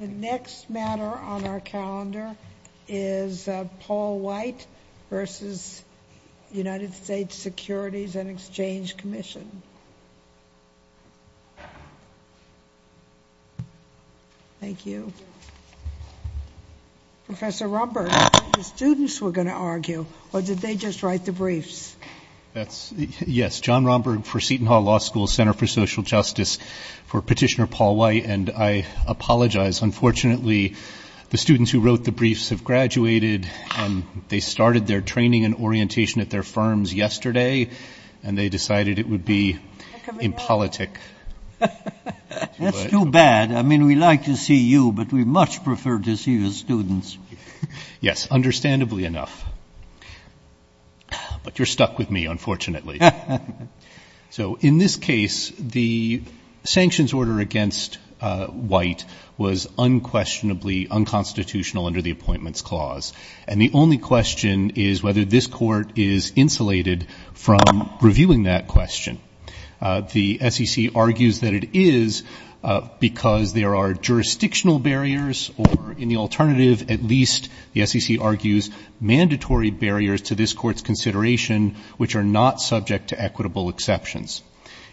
The next matter on our calendar is Paul White v. United States Securities and Exchange Commission. Thank you. Professor Romberg, I thought the students were going to argue, or did they just write the briefs? Yes, John Romberg for Seton Hall Law School Center for Social Justice, for Petitioner Paul White. And I apologize, unfortunately, the students who wrote the briefs have graduated, and they started their training and orientation at their firms yesterday, and they decided it would be impolitic. That's too bad. I mean, we like to see you, but we much prefer to see the students. Yes, understandably enough. But you're stuck with me, unfortunately. So in this case, the sanctions order against White was unquestionably unconstitutional under the Appointments Clause. And the only question is whether this Court is insulated from reviewing that question. The SEC argues that it is because there are jurisdictional barriers, or in the alternative, at least, the SEC argues, mandatory barriers to this Court's consideration which are not subject to equitable exceptions.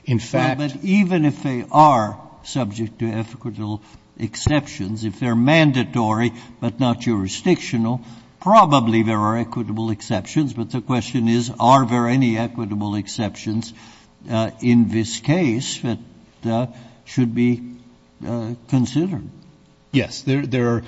In fact — But even if they are subject to equitable exceptions, if they're mandatory but not jurisdictional, probably there are equitable exceptions. But the question is, are there any equitable exceptions in this case that should be considered? Yes. There are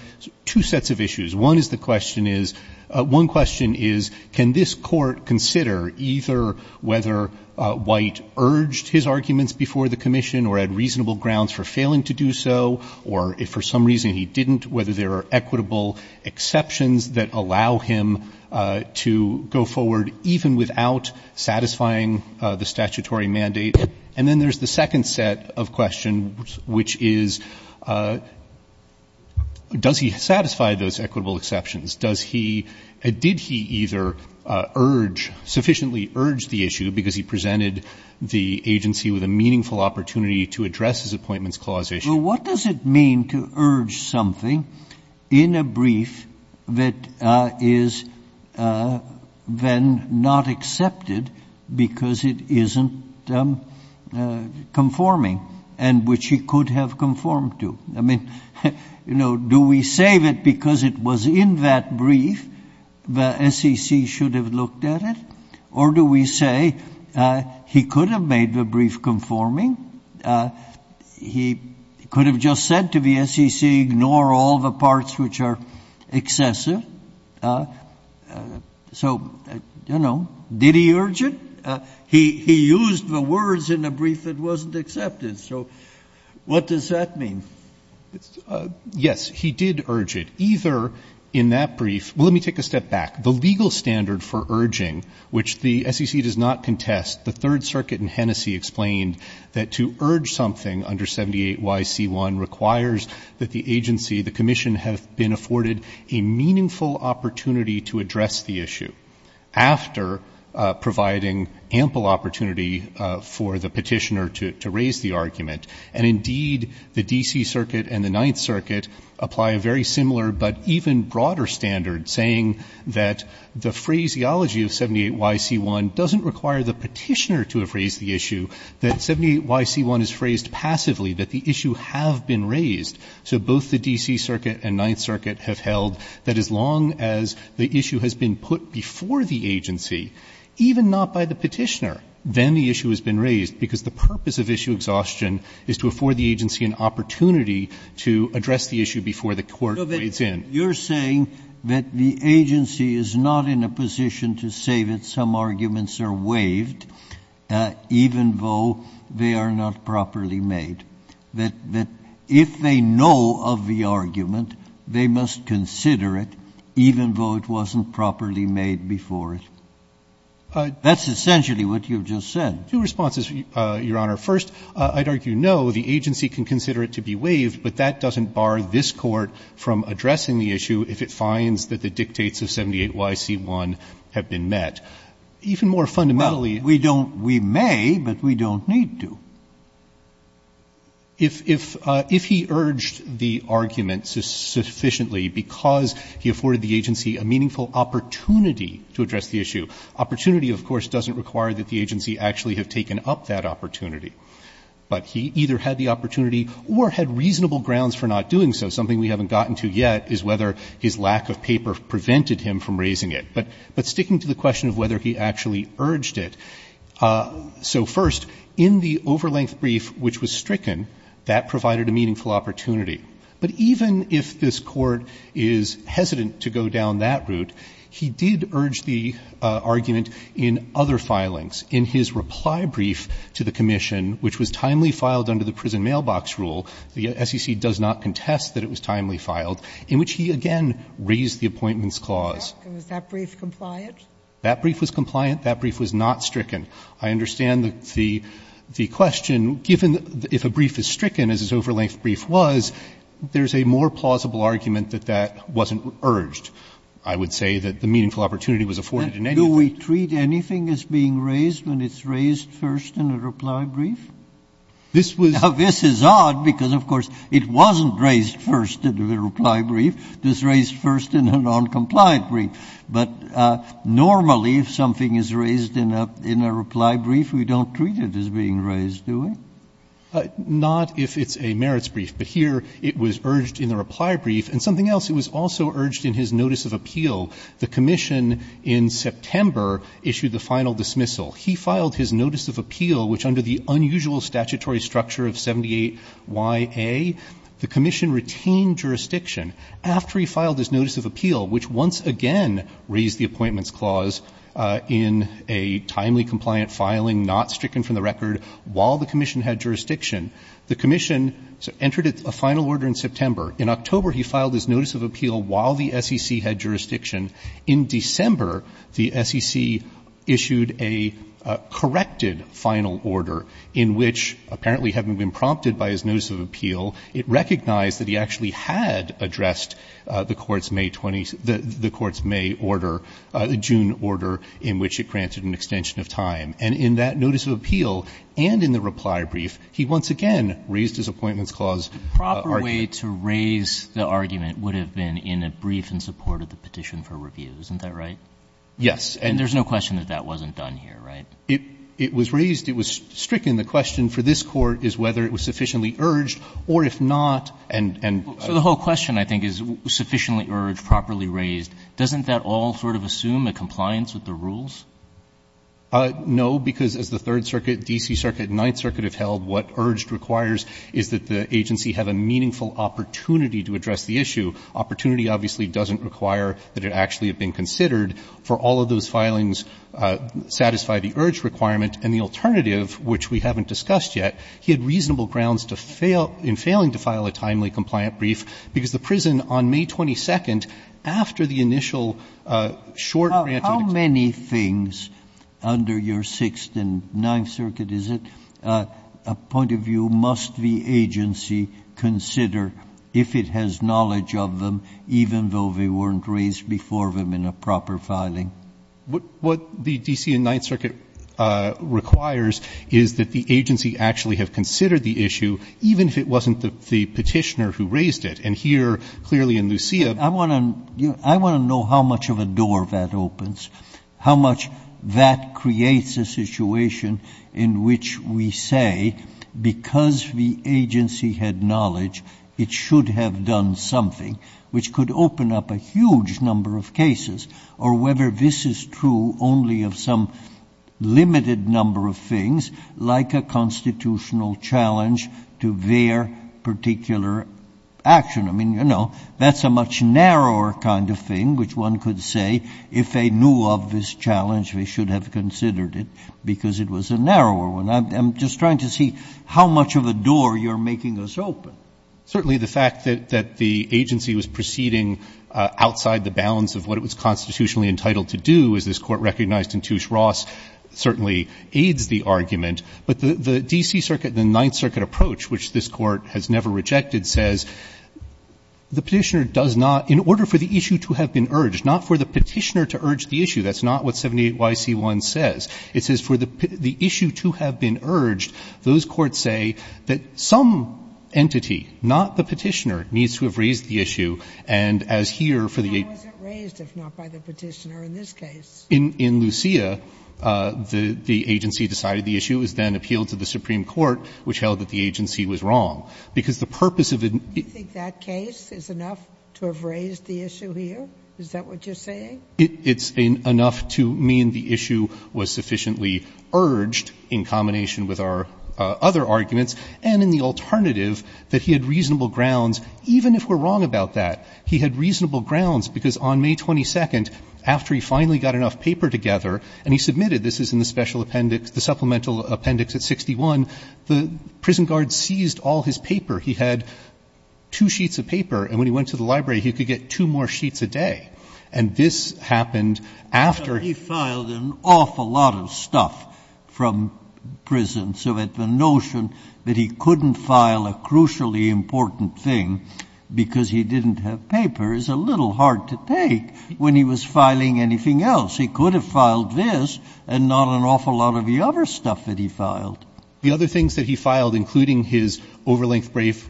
two sets of issues. One is the question is, one question is, can this Court consider either whether White urged his arguments before the commission or had reasonable grounds for failing to do so, or if for some reason he didn't, whether there are equitable exceptions that allow him to go forward even without satisfying the statutory mandate. And then there's the second set of questions, which is, does he satisfy those equitable exceptions? Does he — did he either urge, sufficiently urge the issue because he presented the agency with a meaningful opportunity to address his Appointments Clause issue? So what does it mean to urge something in a brief that is then not accepted because it isn't conforming, and which he could have conformed to? I mean, you know, do we say that because it was in that brief the SEC should have looked at it? Or do we say he could have made the brief conforming? He could have just said to the SEC, ignore all the parts which are excessive. So, you know, did he urge it? He used the words in the brief that wasn't accepted. So what does that mean? Yes. He did urge it. Either in that brief — well, let me take a step back. The legal standard for urging, which the SEC does not contest, the Third Circuit in Hennessy explained that to urge something under 78YC1 requires that the agency, the commission, have been afforded a meaningful opportunity to address the issue, after providing ample opportunity for the petitioner to raise the argument. And, indeed, the D.C. Circuit and the Ninth Circuit apply a very similar but even broader standard, saying that the phraseology of 78YC1 doesn't require the petitioner to have raised the issue, that 78YC1 is phrased passively, that the issue have been raised. So both the D.C. Circuit and Ninth Circuit have held that as long as the issue has been put before the agency, even not by the petitioner, then the issue has been raised, because the purpose of issue exhaustion is to afford the agency an opportunity to address the issue before the court weighs in. But you're saying that the agency is not in a position to say that some arguments are waived even though they are not properly made, that if they know of the argument, they must consider it even though it wasn't properly made before it. That's essentially what you've just said. Two responses, Your Honor. First, I'd argue no, the agency can consider it to be waived, but that doesn't bar this Court from addressing the issue if it finds that the dictates of 78YC1 have been met. Even more fundamentally, we don't we may, but we don't need to. If he urged the argument sufficiently because he afforded the agency a meaningful opportunity to address the issue, opportunity, of course, doesn't require that the agency actually have taken up that opportunity. But he either had the opportunity or had reasonable grounds for not doing so. Something we haven't gotten to yet is whether his lack of paper prevented him from raising it. But sticking to the question of whether he actually urged it, so first, in the overlength brief which was stricken, that provided a meaningful opportunity. But even if this Court is hesitant to go down that route, he did urge the argument in other filings. In his reply brief to the commission, which was timely filed under the prison mailbox rule, the SEC does not contest that it was timely filed, in which he again raised the Appointments Clause. Sotomayor, was that brief compliant? That brief was compliant. That brief was not stricken. I understand the question, given that if a brief is stricken, as his overlength brief was, there's a more plausible argument that that wasn't urged. I would say that the meaningful opportunity was afforded in any of the briefs. Do we treat anything as being raised when it's raised first in a reply brief? This was — Now, this is odd, because, of course, it wasn't raised first in the reply brief. It was raised first in a noncompliant brief. But normally, if something is raised in a reply brief, we don't treat it as being raised, do we? Not if it's a merits brief, but here it was urged in the reply brief. And something else, it was also urged in his notice of appeal. The commission, in September, issued the final dismissal. He filed his notice of appeal, which, under the unusual statutory structure of 78YA, the commission retained jurisdiction. After he filed his notice of appeal, which once again raised the Appointments Clause in a timely, compliant filing, not stricken from the record, while the commission had jurisdiction, the commission entered a final order in September. In October, he filed his notice of appeal while the SEC had jurisdiction. In December, the SEC issued a corrected final order in which, apparently having been prompted by his notice of appeal, it recognized that he actually had addressed the Court's May 20 — the Court's May order — the June order in which it granted an extension of time. And in that notice of appeal and in the reply brief, he once again raised his Appointments Clause argument. Roberts, the proper way to raise the argument would have been in a brief in support of the Petition for Review, isn't that right? Yes. And there's no question that that wasn't done here, right? It was raised, it was stricken, the question for this Court is whether it was sufficiently urged, or if not, and — So the whole question, I think, is sufficiently urged, properly raised. Doesn't that all sort of assume a compliance with the rules? No, because as the Third Circuit, D.C. Circuit, Ninth Circuit have held, what urged requires is that the agency have a meaningful opportunity to address the issue. Opportunity obviously doesn't require that it actually have been considered. For all of those filings, satisfy the urged requirement. And the alternative, which we haven't discussed yet, he had reasonable grounds to fail — in failing to file a timely compliant brief, because the prison, on May 22, after the initial short grant of — How many things under your Sixth and Ninth Circuit, is it, a point of view, must the agency consider if it has knowledge of them, even though they weren't raised before them in a proper filing? What the D.C. and Ninth Circuit requires is that the agency actually have considered the issue, even if it wasn't the Petitioner who raised it. And here, clearly in Lucia — I want to know how much of a door that opens, how much that creates a situation in which we say, because the agency had knowledge, it should have done something, which could open up a huge number of cases, or whether this is true only of some limited number of things, like a constitutional challenge to their particular action. I mean, you know, that's a much narrower kind of thing, which one could say, if they knew of this challenge, they should have considered it, because it was a narrower one. I'm just trying to see how much of a door you're making us open. Certainly, the fact that the agency was proceeding outside the bounds of what it was constitutionally entitled to do, as this Court recognized in Touche Ross, certainly aids the argument. But the D.C. Circuit and the Ninth Circuit approach, which this Court has never rejected, says the Petitioner does not — in order for the issue to have been urged, not for the Petitioner to urge the issue, that's not what 78YC1 says. It says for the issue to have been urged, those courts say that some entity, not the Petitioner, needs to have raised the issue, and as here, for the agency — Sotomayor, was it raised, if not by the Petitioner, in this case? In Lucia, the agency decided the issue was then appealed to the Supreme Court, which the agency was wrong. Because the purpose of it — Do you think that case is enough to have raised the issue here? Is that what you're saying? It's enough to mean the issue was sufficiently urged in combination with our other arguments, and in the alternative, that he had reasonable grounds, even if we're wrong about that. He had reasonable grounds, because on May 22nd, after he finally got enough paper together, and he submitted — this is in the Special Appendix, the Supplemental Section, at 61, the prison guard seized all his paper. He had two sheets of paper, and when he went to the library, he could get two more sheets a day. And this happened after — He filed an awful lot of stuff from prison, so that the notion that he couldn't file a crucially important thing because he didn't have paper is a little hard to take when he was filing anything else. He could have filed this and not an awful lot of the other stuff that he filed. The other things that he filed, including his over-length brief,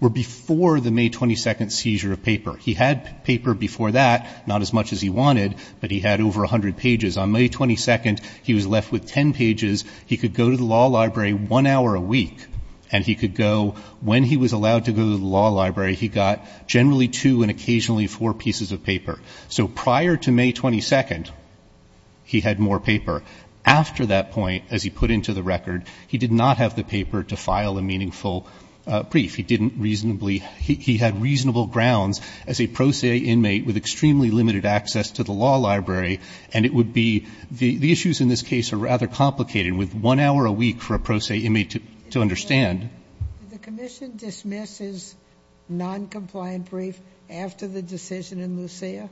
were before the May 22nd seizure of paper. He had paper before that, not as much as he wanted, but he had over 100 pages. On May 22nd, he was left with 10 pages. He could go to the law library one hour a week, and he could go — when he was allowed to go to the law library, he got generally two and occasionally four pieces of paper. So prior to May 22nd, he had more paper. After that point, as he put into the record, he did not have the paper to file a meaningful brief. He didn't reasonably — he had reasonable grounds as a pro se inmate with extremely limited access to the law library, and it would be — the issues in this case are rather complicated, with one hour a week for a pro se inmate to understand. Did the commission dismiss his noncompliant brief after the decision in Lucia?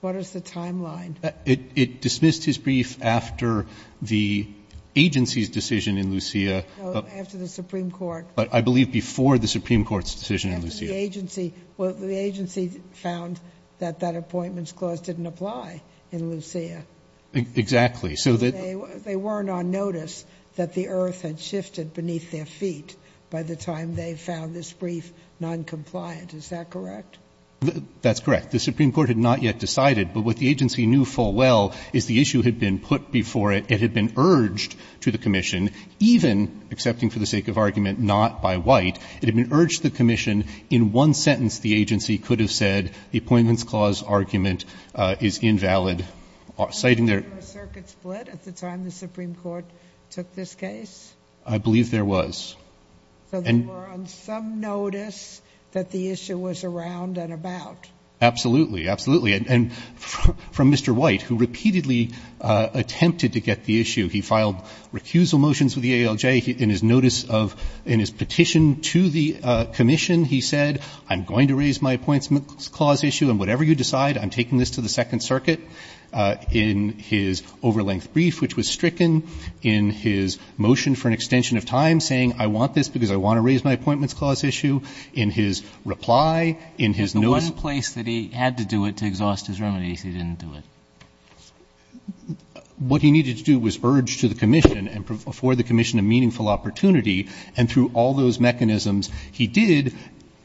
What is the timeline? It dismissed his brief after the agency's decision in Lucia. No, after the Supreme Court. But I believe before the Supreme Court's decision in Lucia. After the agency — well, the agency found that that appointments clause didn't apply in Lucia. Exactly. So that — They weren't on notice that the earth had shifted beneath their feet by the time they found this brief noncompliant. Is that correct? That's correct. The Supreme Court had not yet decided. But what the agency knew full well is the issue had been put before it. It had been urged to the commission, even — accepting for the sake of argument — not by White. It had been urged to the commission. In one sentence, the agency could have said the appointments clause argument is invalid, citing their — Was there a circuit split at the time the Supreme Court took this case? I believe there was. So they were on some notice that the issue was around and about. Absolutely. Absolutely. And from Mr. White, who repeatedly attempted to get the issue — he filed recusal motions with the ALJ in his notice of — in his petition to the commission. He said, I'm going to raise my appointments clause issue, and whatever you decide, I'm taking this to the Second Circuit. In his overlength brief, which was stricken, in his motion for an extension of time saying, I want this because I want to raise my appointments clause issue, in his reply, in his notice — Was the one place that he had to do it to exhaust his remedies, he didn't do it? What he needed to do was urge to the commission and afford the commission a meaningful opportunity. And through all those mechanisms, he did.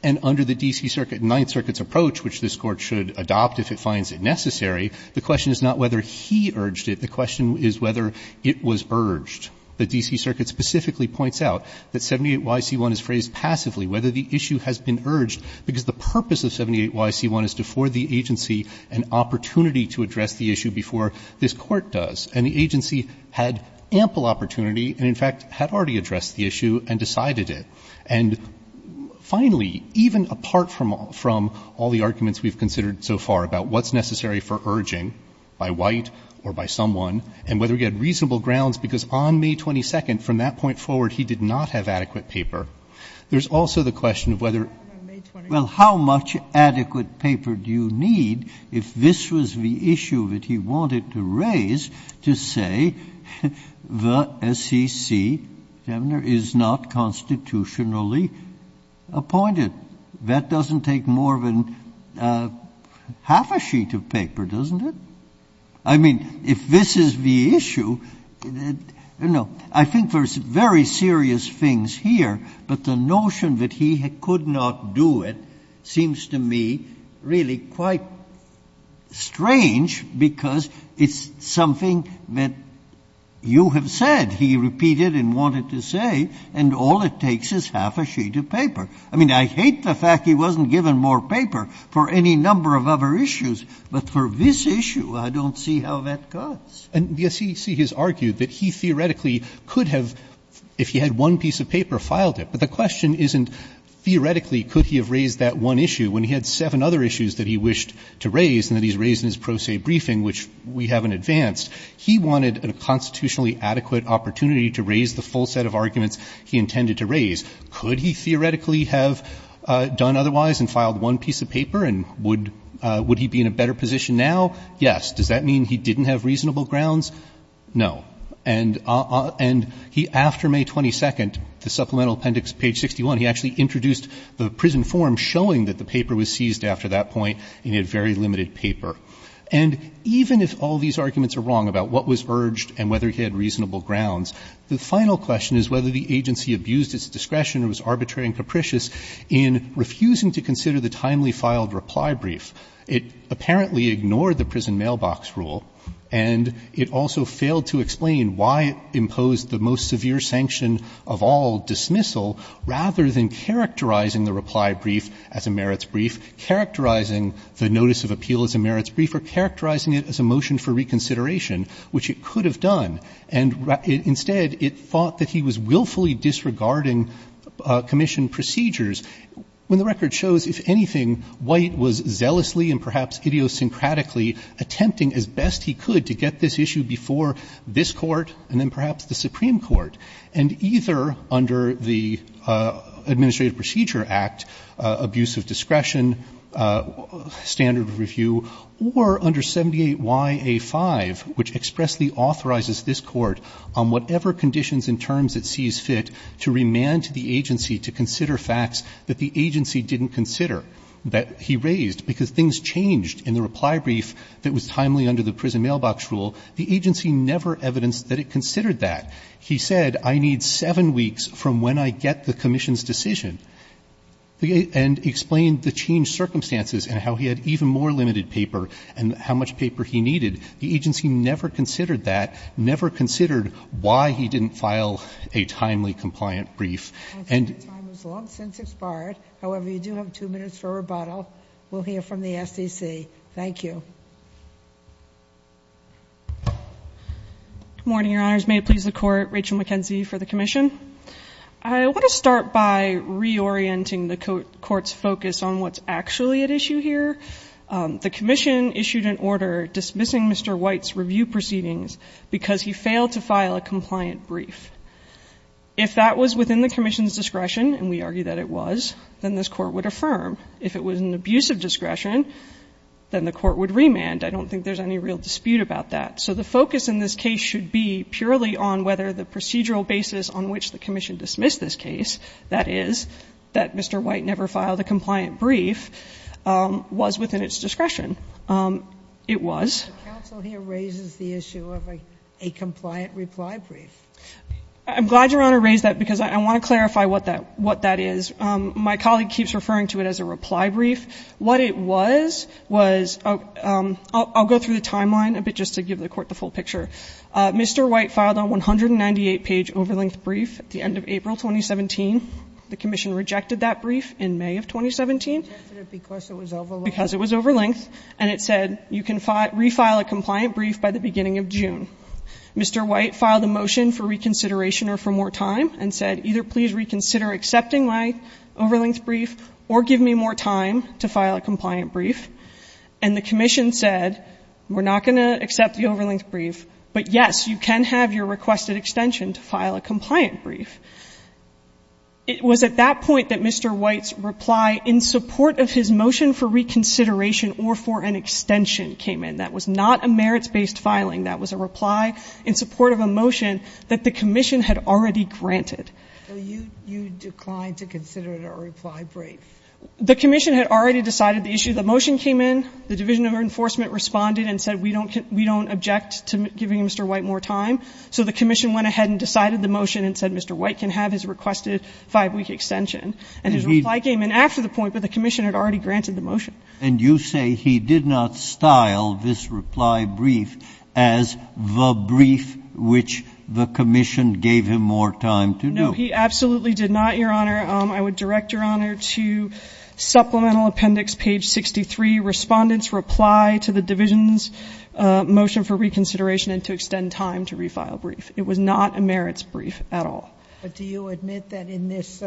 And under the D.C. Circuit, Ninth Circuit's approach, which this Court should adopt if it finds it necessary, the question is not whether he urged it. The question is whether it was urged. The D.C. Circuit specifically points out that 78YC1 is phrased passively, whether the issue has been urged, because the purpose of 78YC1 is to afford the agency an opportunity to address the issue before this Court does. And the agency had ample opportunity and, in fact, had already addressed the issue and decided it. And finally, even apart from all the arguments we've considered so far about what's necessary for urging by White or by someone, and whether he had reasonable grounds, because on May 22nd, from that point forward, he did not have adequate paper, there's also the question of whether — Well, how much adequate paper do you need if this was the issue that he wanted to raise to say the SEC is not constitutionally appointed? That doesn't take more than half a sheet of paper, doesn't it? I mean, if this is the issue, you know, I think there's very serious things here, but the notion that he could not do it seems to me really quite strange, because it's something that you have said he repeated and wanted to say, and all it takes is half a sheet of paper. I mean, I hate the fact he wasn't given more paper for any number of other issues, but for this issue, I don't see how that cuts. And the SEC has argued that he theoretically could have, if he had one piece of paper, filed it. But the question isn't theoretically could he have raised that one issue when he had seven other issues that he wished to raise and that he's raised in his pro se briefing, which we haven't advanced. He wanted a constitutionally adequate opportunity to raise the full set of arguments he intended to raise. Could he theoretically have done otherwise and filed one piece of paper? And would he be in a better position now? Yes. Does that mean he didn't have reasonable grounds? No. And he, after May 22nd, the supplemental appendix, page 61, he actually introduced the prison form showing that the paper was seized after that point and he had very limited paper. And even if all these arguments are wrong about what was urged and whether he had reasonable grounds, the final question is whether the agency abused its discretion or was arbitrary and capricious in refusing to consider the timely filed reply brief. It apparently ignored the prison mailbox rule, and it also failed to explain why it was not. And so it's not just characterizing the reply brief as a merits brief, characterizing the notice of appeal as a merits brief, or characterizing it as a motion for reconsideration, which it could have done, and instead it thought that he was willfully disregarding commission procedures when the record shows, if anything, White was zealously and perhaps idiosyncratically attempting as best he could to get this issue before this Court and then perhaps the Supreme Court. And either under the Administrative Procedure Act, abuse of discretion, standard of review, or under 78YA5, which expressly authorizes this Court on whatever conditions and terms it sees fit to remand to the agency to consider facts that the agency didn't consider that he raised, because things changed in the reply brief that was timely under the prison mailbox rule. The agency never evidenced that it considered that. He said, I need seven weeks from when I get the commission's decision, and explained the changed circumstances and how he had even more limited paper and how much paper he needed. The agency never considered that, never considered why he didn't file a timely compliant brief. And... The time is long since expired. However, you do have two minutes for rebuttal. We'll hear from the SEC. Thank you. Good morning, Your Honors. May it please the Court, Rachel McKenzie for the Commission. I want to start by reorienting the Court's focus on what's actually at issue here. The Commission issued an order dismissing Mr. White's review proceedings because he failed to file a compliant brief. If that was within the Commission's discretion, and we argue that it was, then this Court would affirm. If it was an abuse of discretion, then the Court would remand. I don't think there's any real dispute about that. So the focus in this case should be purely on whether the procedural basis on which the Commission dismissed this case, that is, that Mr. White never filed a compliant brief, was within its discretion. It was. The counsel here raises the issue of a compliant reply brief. I'm glad Your Honor raised that because I want to clarify what that is. My colleague keeps referring to it as a reply brief. What it was, was, I'll go through the timeline a bit just to give the Court the full picture. Mr. White filed a 198-page over-length brief at the end of April 2017. The Commission rejected that brief in May of 2017. Rejected it because it was over-length? Because it was over-length. And it said, you can refile a compliant brief by the beginning of June. Mr. White filed a motion for reconsideration or for more time and said, either reconsider accepting my over-length brief or give me more time to file a compliant brief. And the Commission said, we're not going to accept the over-length brief, but yes, you can have your requested extension to file a compliant brief. It was at that point that Mr. White's reply in support of his motion for reconsideration or for an extension came in. That was not a merits-based filing. That was a reply in support of a motion that the Commission had already granted. So you declined to consider it a reply brief? The Commission had already decided the issue. The motion came in. The Division of Enforcement responded and said, we don't object to giving Mr. White more time. So the Commission went ahead and decided the motion and said, Mr. White can have his requested five-week extension. motion. And you say he did not style this reply brief as the brief which the Commission gave him more time to do? No, he absolutely did not, Your Honor. I would direct Your Honor to Supplemental Appendix, page 63. Respondents reply to the Division's motion for reconsideration and to extend time to refile brief. It was not a merits brief at all. But do you admit that in this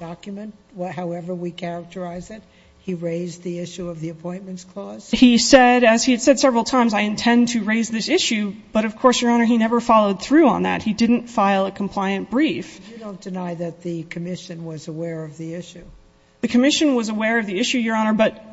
document, however we characterize it, he raised the issue of the Appointments Clause? He said, as he had said several times, I intend to raise this issue. But of course, Your Honor, he never followed through on that. He didn't file a compliant brief. You don't deny that the Commission was aware of the issue? The Commission was aware of the issue, Your Honor, but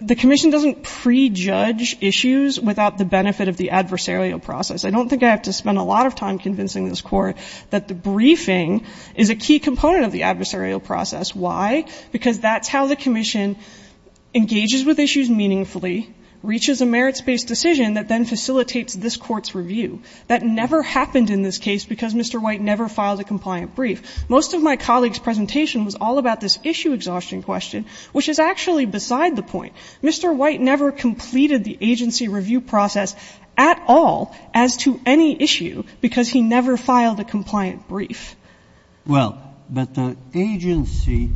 the Commission doesn't prejudge issues without the benefit of the adversarial process. I don't think I have to spend a lot of time convincing this Court that the briefing is a key component of the adversarial process. Why? Because that's how the Commission engages with issues meaningfully, reaches a merits based decision that then facilitates this Court's review. That never happened in this case because Mr. White never filed a compliant brief. Most of my colleague's presentation was all about this issue exhaustion question, which is actually beside the point. Mr. White never completed the agency review process at all as to any issue because he never filed a compliant brief. Well, but the agency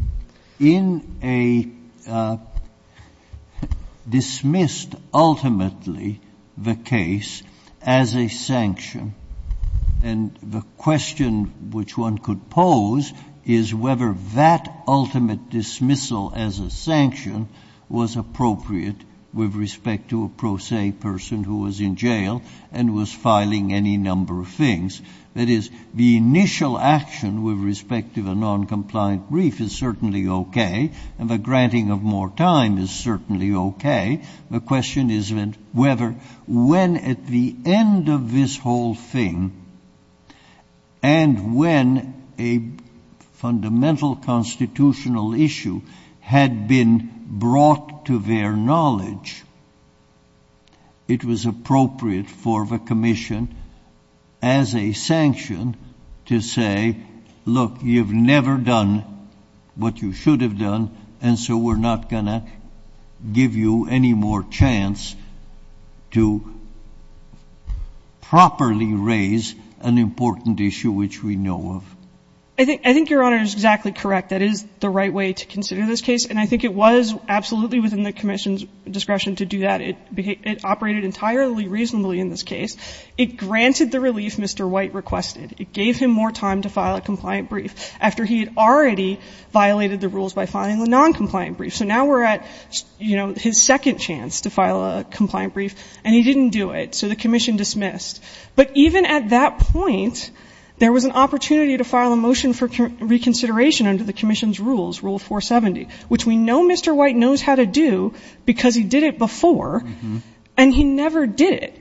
dismissed ultimately the case as a sanction and the question which one could pose is whether that ultimate dismissal as a sanction was appropriate with respect to a pro se person who was in jail and was filing any number of things. That is, the initial action with respect to the non-compliant brief is certainly okay and the granting of more time is certainly okay. The question is whether when at the end of this whole thing and when a fundamental constitutional issue had been brought to their knowledge, it was appropriate for the Commission as a sanction to say, look, you've never done what you should have done and so we're not going to give you any more chance to properly raise an important issue which we know of. I think your Honor is exactly correct. That is the right way to consider this case and I think it was absolutely within the Commission's discretion to do that. It operated entirely reasonably in this case. It granted the relief Mr. White requested. It gave him more time to file a compliant brief after he had already violated the rules by filing a non-compliant brief. So now we're at his second chance to file a compliant brief and he didn't do it. So the Commission dismissed. But even at that point, there was an opportunity to file a motion for reconsideration under the Commission's rules, Rule 470, which we know Mr. White knows how to do because he did it before and he never did it.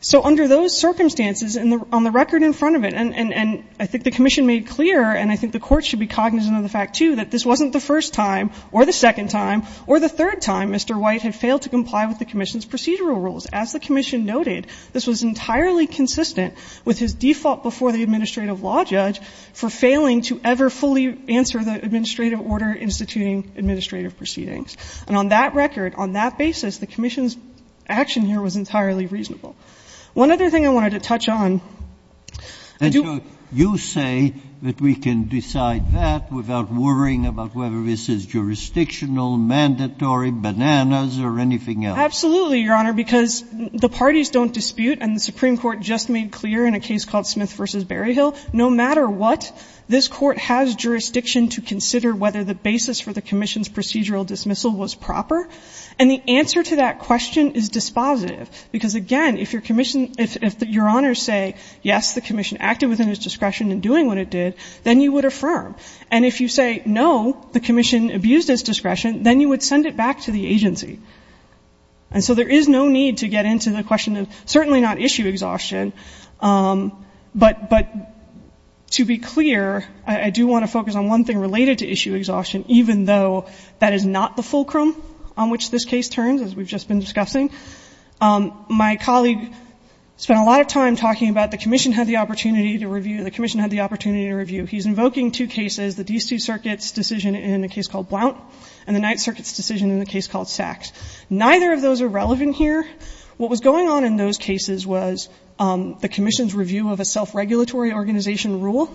So under those circumstances, on the record in front of it, and I think the Commission made clear and I think the Court should be cognizant of the fact, too, that this wasn't the first time or the second time or the third time Mr. White had failed to comply with the Commission's procedural rules. As the Commission noted, this was entirely consistent with his default before the Administrative Law Judge for failing to ever fully answer the Administrative Order instituting administrative proceedings. And on that record, on that basis, the Commission's action here was entirely reasonable. One other thing I wanted to touch on. I do. And so you say that we can decide that without worrying about whether this is jurisdictional, mandatory, bananas, or anything else? Absolutely, Your Honor, because the parties don't dispute, and the Supreme Court just made clear in a case called Smith v. Berryhill, no matter what, this Court has decided that this dismissal was proper. And the answer to that question is dispositive. Because again, if Your Honor say, yes, the Commission acted within its discretion in doing what it did, then you would affirm. And if you say, no, the Commission abused its discretion, then you would send it back to the agency. And so there is no need to get into the question of certainly not issue exhaustion, but to be clear, I do want to focus on one thing related to issue exhaustion, even though that is not the fulcrum on which this case turns, as we've just been discussing. My colleague spent a lot of time talking about the Commission had the opportunity to review, the Commission had the opportunity to review. He's invoking two cases, the D.C. Circuit's decision in a case called Blount, and the Ninth Circuit's decision in a case called Sachs. Neither of those are relevant here. What was going on in those cases was the Commission's review of a self-regulatory organization rule.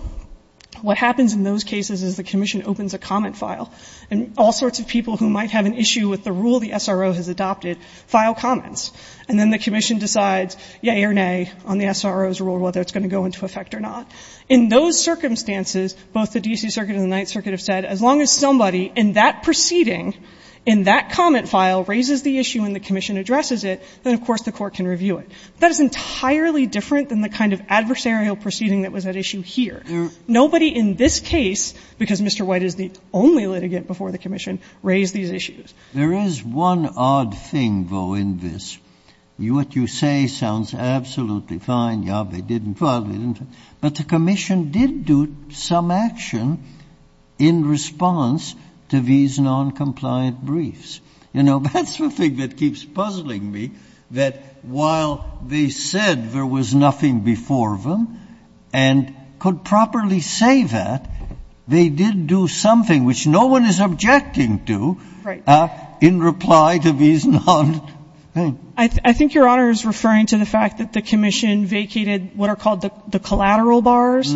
What happens in those cases is the Commission opens a comment file, and all sorts of people who might have an issue with the rule the SRO has adopted file comments. And then the Commission decides, yay or nay, on the SRO's rule whether it's going to go into effect or not. In those circumstances, both the D.C. Circuit and the Ninth Circuit have said, as long as somebody in that proceeding, in that comment file, raises the issue and the Commission addresses it, then, of course, the Court can review it. That is entirely different than the kind of adversarial proceeding that was at issue here. Nobody in this case, because Mr. White is the only litigant before the Commission, raised these issues. Breyer, There is one odd thing, though, in this. What you say sounds absolutely fine, yeah, they didn't file it, but the Commission did do some action in response to these noncompliant briefs. You know, that's the thing that keeps puzzling me, that while they said there was nothing before them and could properly say that, they did do something which no one is objecting to in reply to these non-things. I think Your Honor is referring to the fact that the Commission vacated what are called the collateral bars.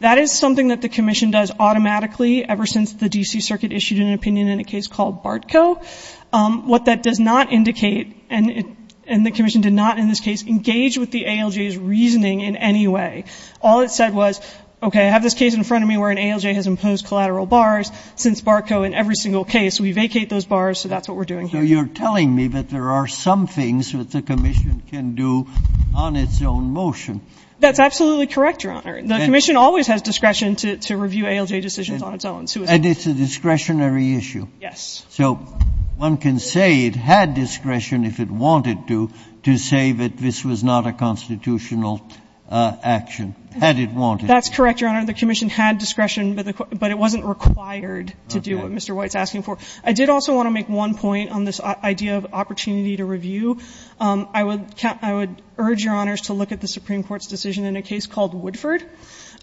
That is something that the Commission does automatically ever since the D.C. Circuit issued an opinion in a case called Bartco. What that does not indicate, and the Commission did not in this case engage with the ALJ's reasoning in any way. All it said was, okay, I have this case in front of me where an ALJ has imposed collateral bars. Since Bartco, in every single case, we vacate those bars, so that's what we're doing here. So you're telling me that there are some things that the Commission can do on its own motion. That's absolutely correct, Your Honor. The Commission always has discretion to review ALJ decisions on its own. And it's a discretionary issue. Yes. So one can say it had discretion if it wanted to, to say that this was not a constitutional action, had it wanted to. That's correct, Your Honor. The Commission had discretion, but it wasn't required to do what Mr. White is asking for. Okay. I did also want to make one point on this idea of opportunity to review. I would urge Your Honors to look at the Supreme Court's decision in a case called Woodford.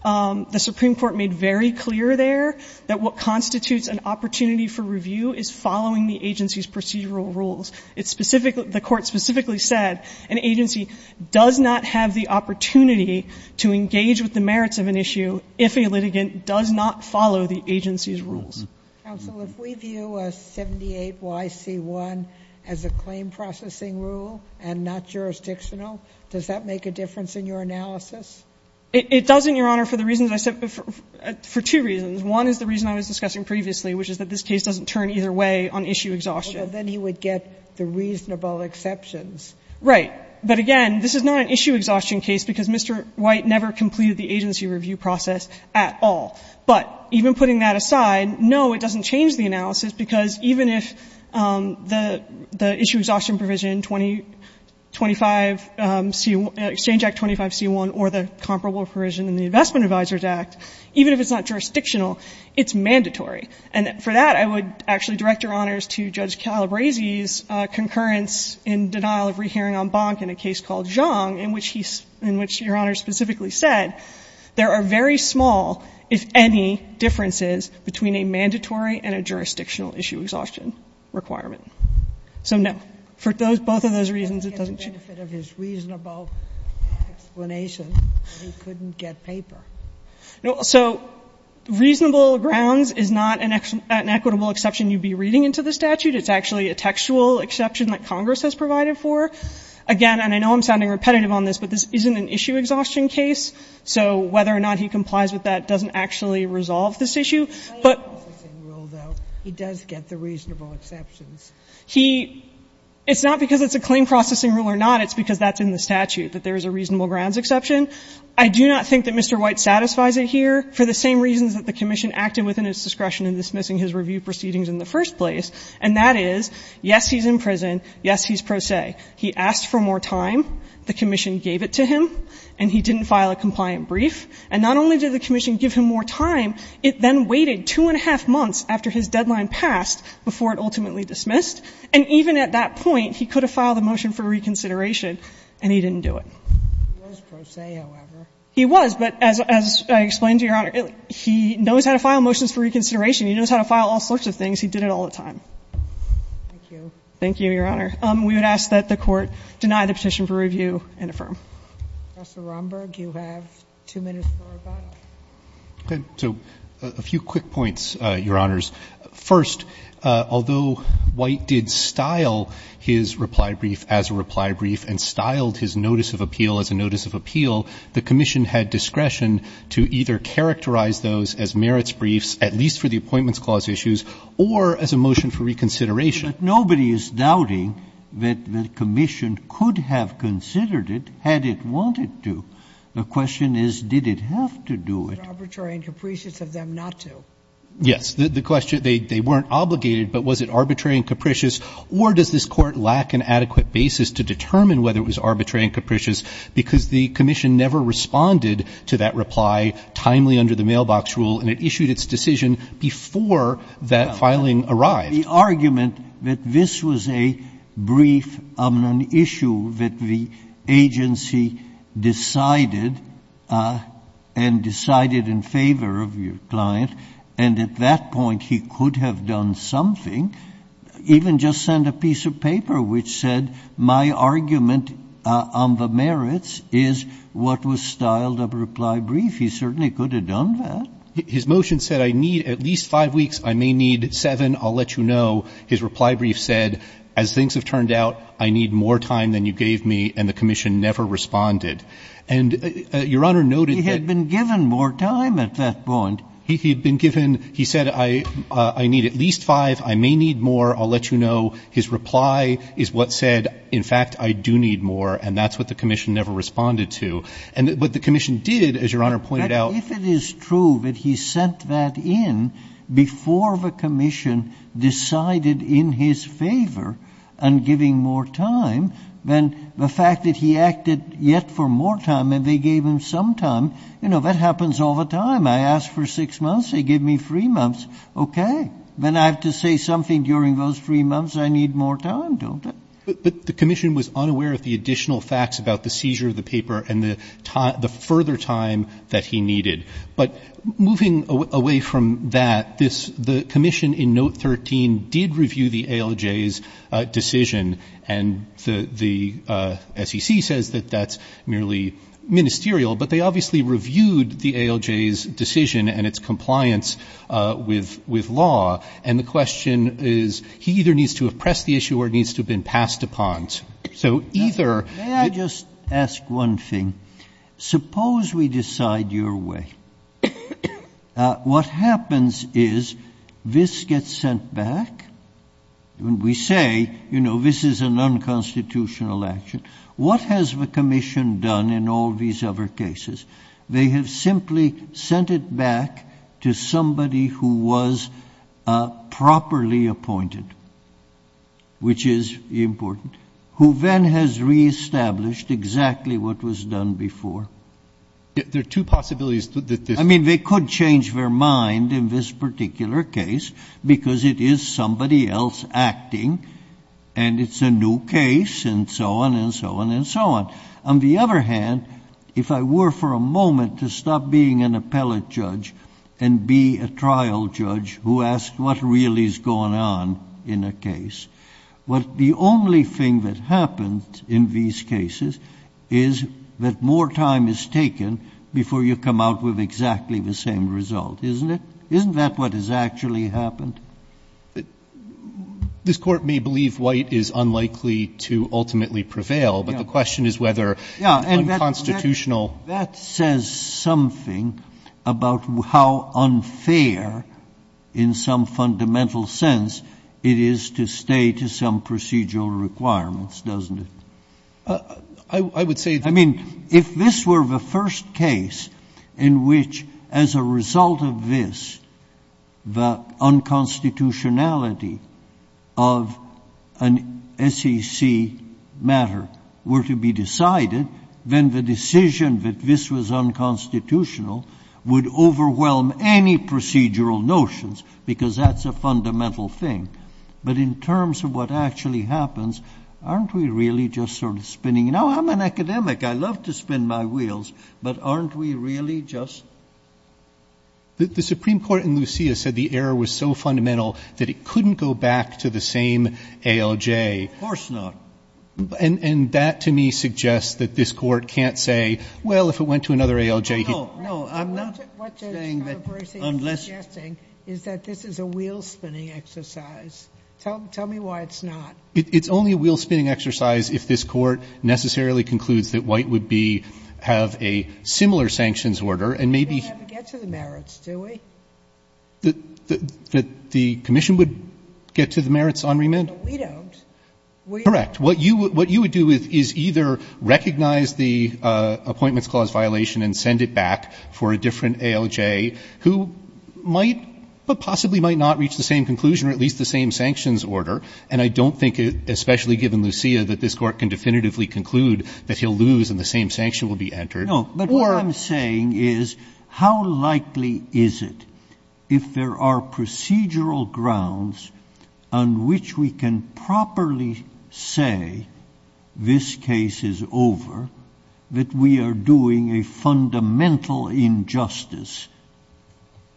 The Supreme Court made very clear there that what constitutes an opportunity for review is following the agency's procedural rules. It's specifically, the Court specifically said an agency does not have the opportunity to engage with the merits of an issue if a litigant does not follow the agency's rules. Counsel, if we view a 78YC1 as a claim processing rule and not jurisdictional, does that make a difference in your analysis? It doesn't, Your Honor, for the reasons I said, for two reasons. One is the reason I was discussing previously, which is that this case doesn't turn either way on issue exhaustion. Well, then he would get the reasonable exceptions. Right. But again, this is not an issue exhaustion case because Mr. White never completed the agency review process at all. But even putting that aside, no, it doesn't change the analysis, because even if the issue exhaustion provision, 25C1, Exchange Act 25C1, or the comparable provision in the Investment Advisers Act, even if it's not jurisdictional, it's mandatory. And for that, I would actually direct Your Honor's to Judge Calabresi's concurrence in denial of rehearing en banc in a case called Xiong, in which he's — in which Your Honor specifically said there are very small, if any, differences between a mandatory and a jurisdictional issue exhaustion requirement. So, no. For both of those reasons, it doesn't change. But if it's reasonable explanation, he couldn't get paper. No. So reasonable grounds is not an equitable exception you'd be reading into the statute. It's actually a textual exception that Congress has provided for. Again, and I know I'm sounding repetitive on this, but this isn't an issue exhaustion case, so whether or not he complies with that doesn't actually resolve this issue. But — Claim processing rule, though. He does get the reasonable exceptions. He — it's not because it's a claim processing rule or not. It's because that's in the statute, that there is a reasonable grounds exception. I do not think that Mr. White satisfies it here, for the same reasons that the commission acted within its discretion in dismissing his review proceedings in the first place, and that is, yes, he's in prison. Yes, he's pro se. He asked for more time. The commission gave it to him, and he didn't file a compliant brief. And not only did the commission give him more time, it then waited two and a half months after his deadline passed before it ultimately dismissed. And even at that point, he could have filed a motion for reconsideration, and he didn't do it. He was pro se, however. He was, but as I explained to Your Honor, he knows how to file motions for reconsideration. He knows how to file all sorts of things. He did it all the time. Thank you. Thank you, Your Honor. We would ask that the Court deny the petition for review and affirm. Professor Romberg, you have two minutes for rebuttal. Okay. So a few quick points, Your Honors. First, although White did style his reply brief as a reply brief and styled his notice of appeal as a notice of appeal, the commission had discretion to either characterize those as merits briefs, at least for the Appointments Clause issues, or as a motion for reconsideration. But nobody is doubting that the commission could have considered it had it wanted to. The question is, did it have to do it? Was it arbitrary and capricious of them not to? Yes. The question, they weren't obligated, but was it arbitrary and capricious, or does this Court lack an adequate basis to determine whether it was arbitrary and capricious, because the commission never responded to that reply timely under the mailbox rule, and it issued its decision before that filing arrived. But the argument that this was a brief on an issue that the agency decided, and decided in favor of your client, and at that point he could have done something, even just send a piece of paper which said, my argument on the merits is what was styled a reply brief, he certainly could have done that. His motion said, I need at least five weeks, I may need seven, I'll let you know. His reply brief said, as things have turned out, I need more time than you gave me, and the commission never responded. And Your Honor noted that he had been given more time at that point. He had been given, he said, I need at least five, I may need more, I'll let you know. His reply is what said, in fact, I do need more, and that's what the commission never responded to. But the commission did, as Your Honor pointed out. If it is true that he sent that in before the commission decided in his favor on giving more time, then the fact that he acted yet for more time and they gave him some time, you know, that happens all the time. I ask for six months, they give me three months. Okay. Then I have to say something during those three months, I need more time, don't I? But the commission was unaware of the additional facts about the seizure of the paper and the further time that he needed. But moving away from that, the commission in Note 13 did review the ALJ's decision, and the SEC says that that's merely ministerial, but they obviously reviewed the ALJ's decision and its compliance with law. And the question is, he either needs to have pressed the issue or it needs to have been passed upon. So either or. May I just ask one thing? Suppose we decide your way. What happens is this gets sent back, and we say, you know, this is an unconstitutional action. What has the commission done in all these other cases? They have simply sent it back to somebody who was properly appointed, which is important, who then has reestablished exactly what was done before. There are two possibilities. I mean, they could change their mind in this particular case because it is somebody else acting, and it's a new case, and so on and so on and so on. On the other hand, if I were for a moment to stop being an appellate judge and be a judge, the only thing that happens in these cases is that more time is taken before you come out with exactly the same result, isn't it? Isn't that what has actually happened? This Court may believe White is unlikely to ultimately prevail, but the question is whether unconstitutional. That says something about how unfair, in some fundamental sense, it is to stay to some procedural requirements, doesn't it? I mean, if this were the first case in which, as a result of this, the unconstitutionality of an SEC matter were to be decided, then the decision that this was unconstitutional would overwhelm any procedural notions, because that's a fundamental thing. But in terms of what actually happens, aren't we really just sort of spinning – now, I'm an academic. I love to spin my wheels, but aren't we really just? The Supreme Court in Lucia said the error was so fundamental that it couldn't go back to the same ALJ. Of course not. And that, to me, suggests that this Court can't say, well, if it went to another ALJ, he'd – No, no. I'm not saying that unless – What Justice Breyer is suggesting is that this is a wheel-spinning exercise. Tell me why it's not. It's only a wheel-spinning exercise if this Court necessarily concludes that White would be – have a similar sanctions order, and maybe – We don't have to get to the merits, do we? The commission would get to the merits on remand? No, we don't. Correct. What you would do is either recognize the Appointments Clause violation and send it back for a different ALJ, who might but possibly might not reach the same conclusion or at least the same sanctions order. And I don't think, especially given Lucia, that this Court can definitively conclude that he'll lose and the same sanction will be entered. No. But what I'm saying is, how likely is it, if there are procedural grounds on which we can properly say this case is over, that we are doing a fundamental injustice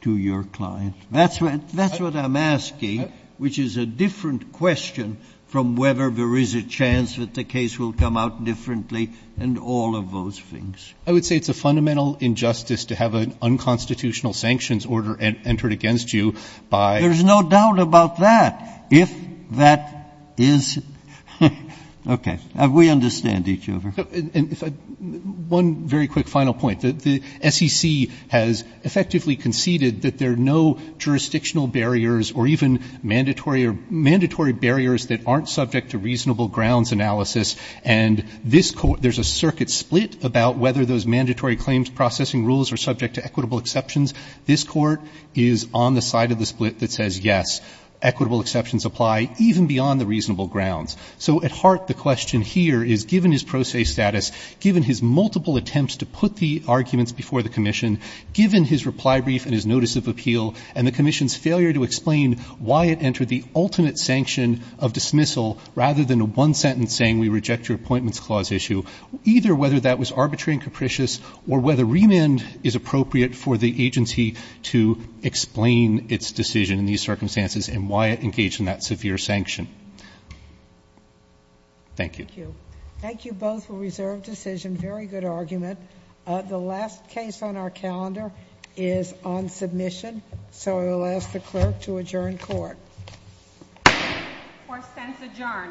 to your client? That's what I'm asking, which is a different question from whether there is a chance that the case will come out differently and all of those things. I would say it's a fundamental injustice to have an unconstitutional sanctions order entered against you by – There's no doubt about that. If that is – okay. We understand each other. One very quick final point. The SEC has effectively conceded that there are no jurisdictional barriers or even mandatory or – mandatory barriers that aren't subject to reasonable grounds analysis. And this Court – there's a circuit split about whether those mandatory claims processing rules are subject to equitable exceptions. This Court is on the side of the split that says, yes, equitable exceptions apply even beyond the reasonable grounds. So at heart, the question here is, given his pro se status, given his multiple attempts to put the arguments before the Commission, given his reply brief and his notice of appeal, and the Commission's failure to explain why it entered the ultimate sanction of dismissal rather than one sentence saying we reject your appointments clause issue, either whether that was arbitrary and capricious or whether remand is appropriate for the agency to explain its decision in these circumstances and why it engaged in that severe sanction. Thank you. Thank you. Thank you both for reserved decision. Very good argument. The last case on our calendar is on submission, so I will ask the clerk to adjourn court. Fourth sense adjourned. Thank you.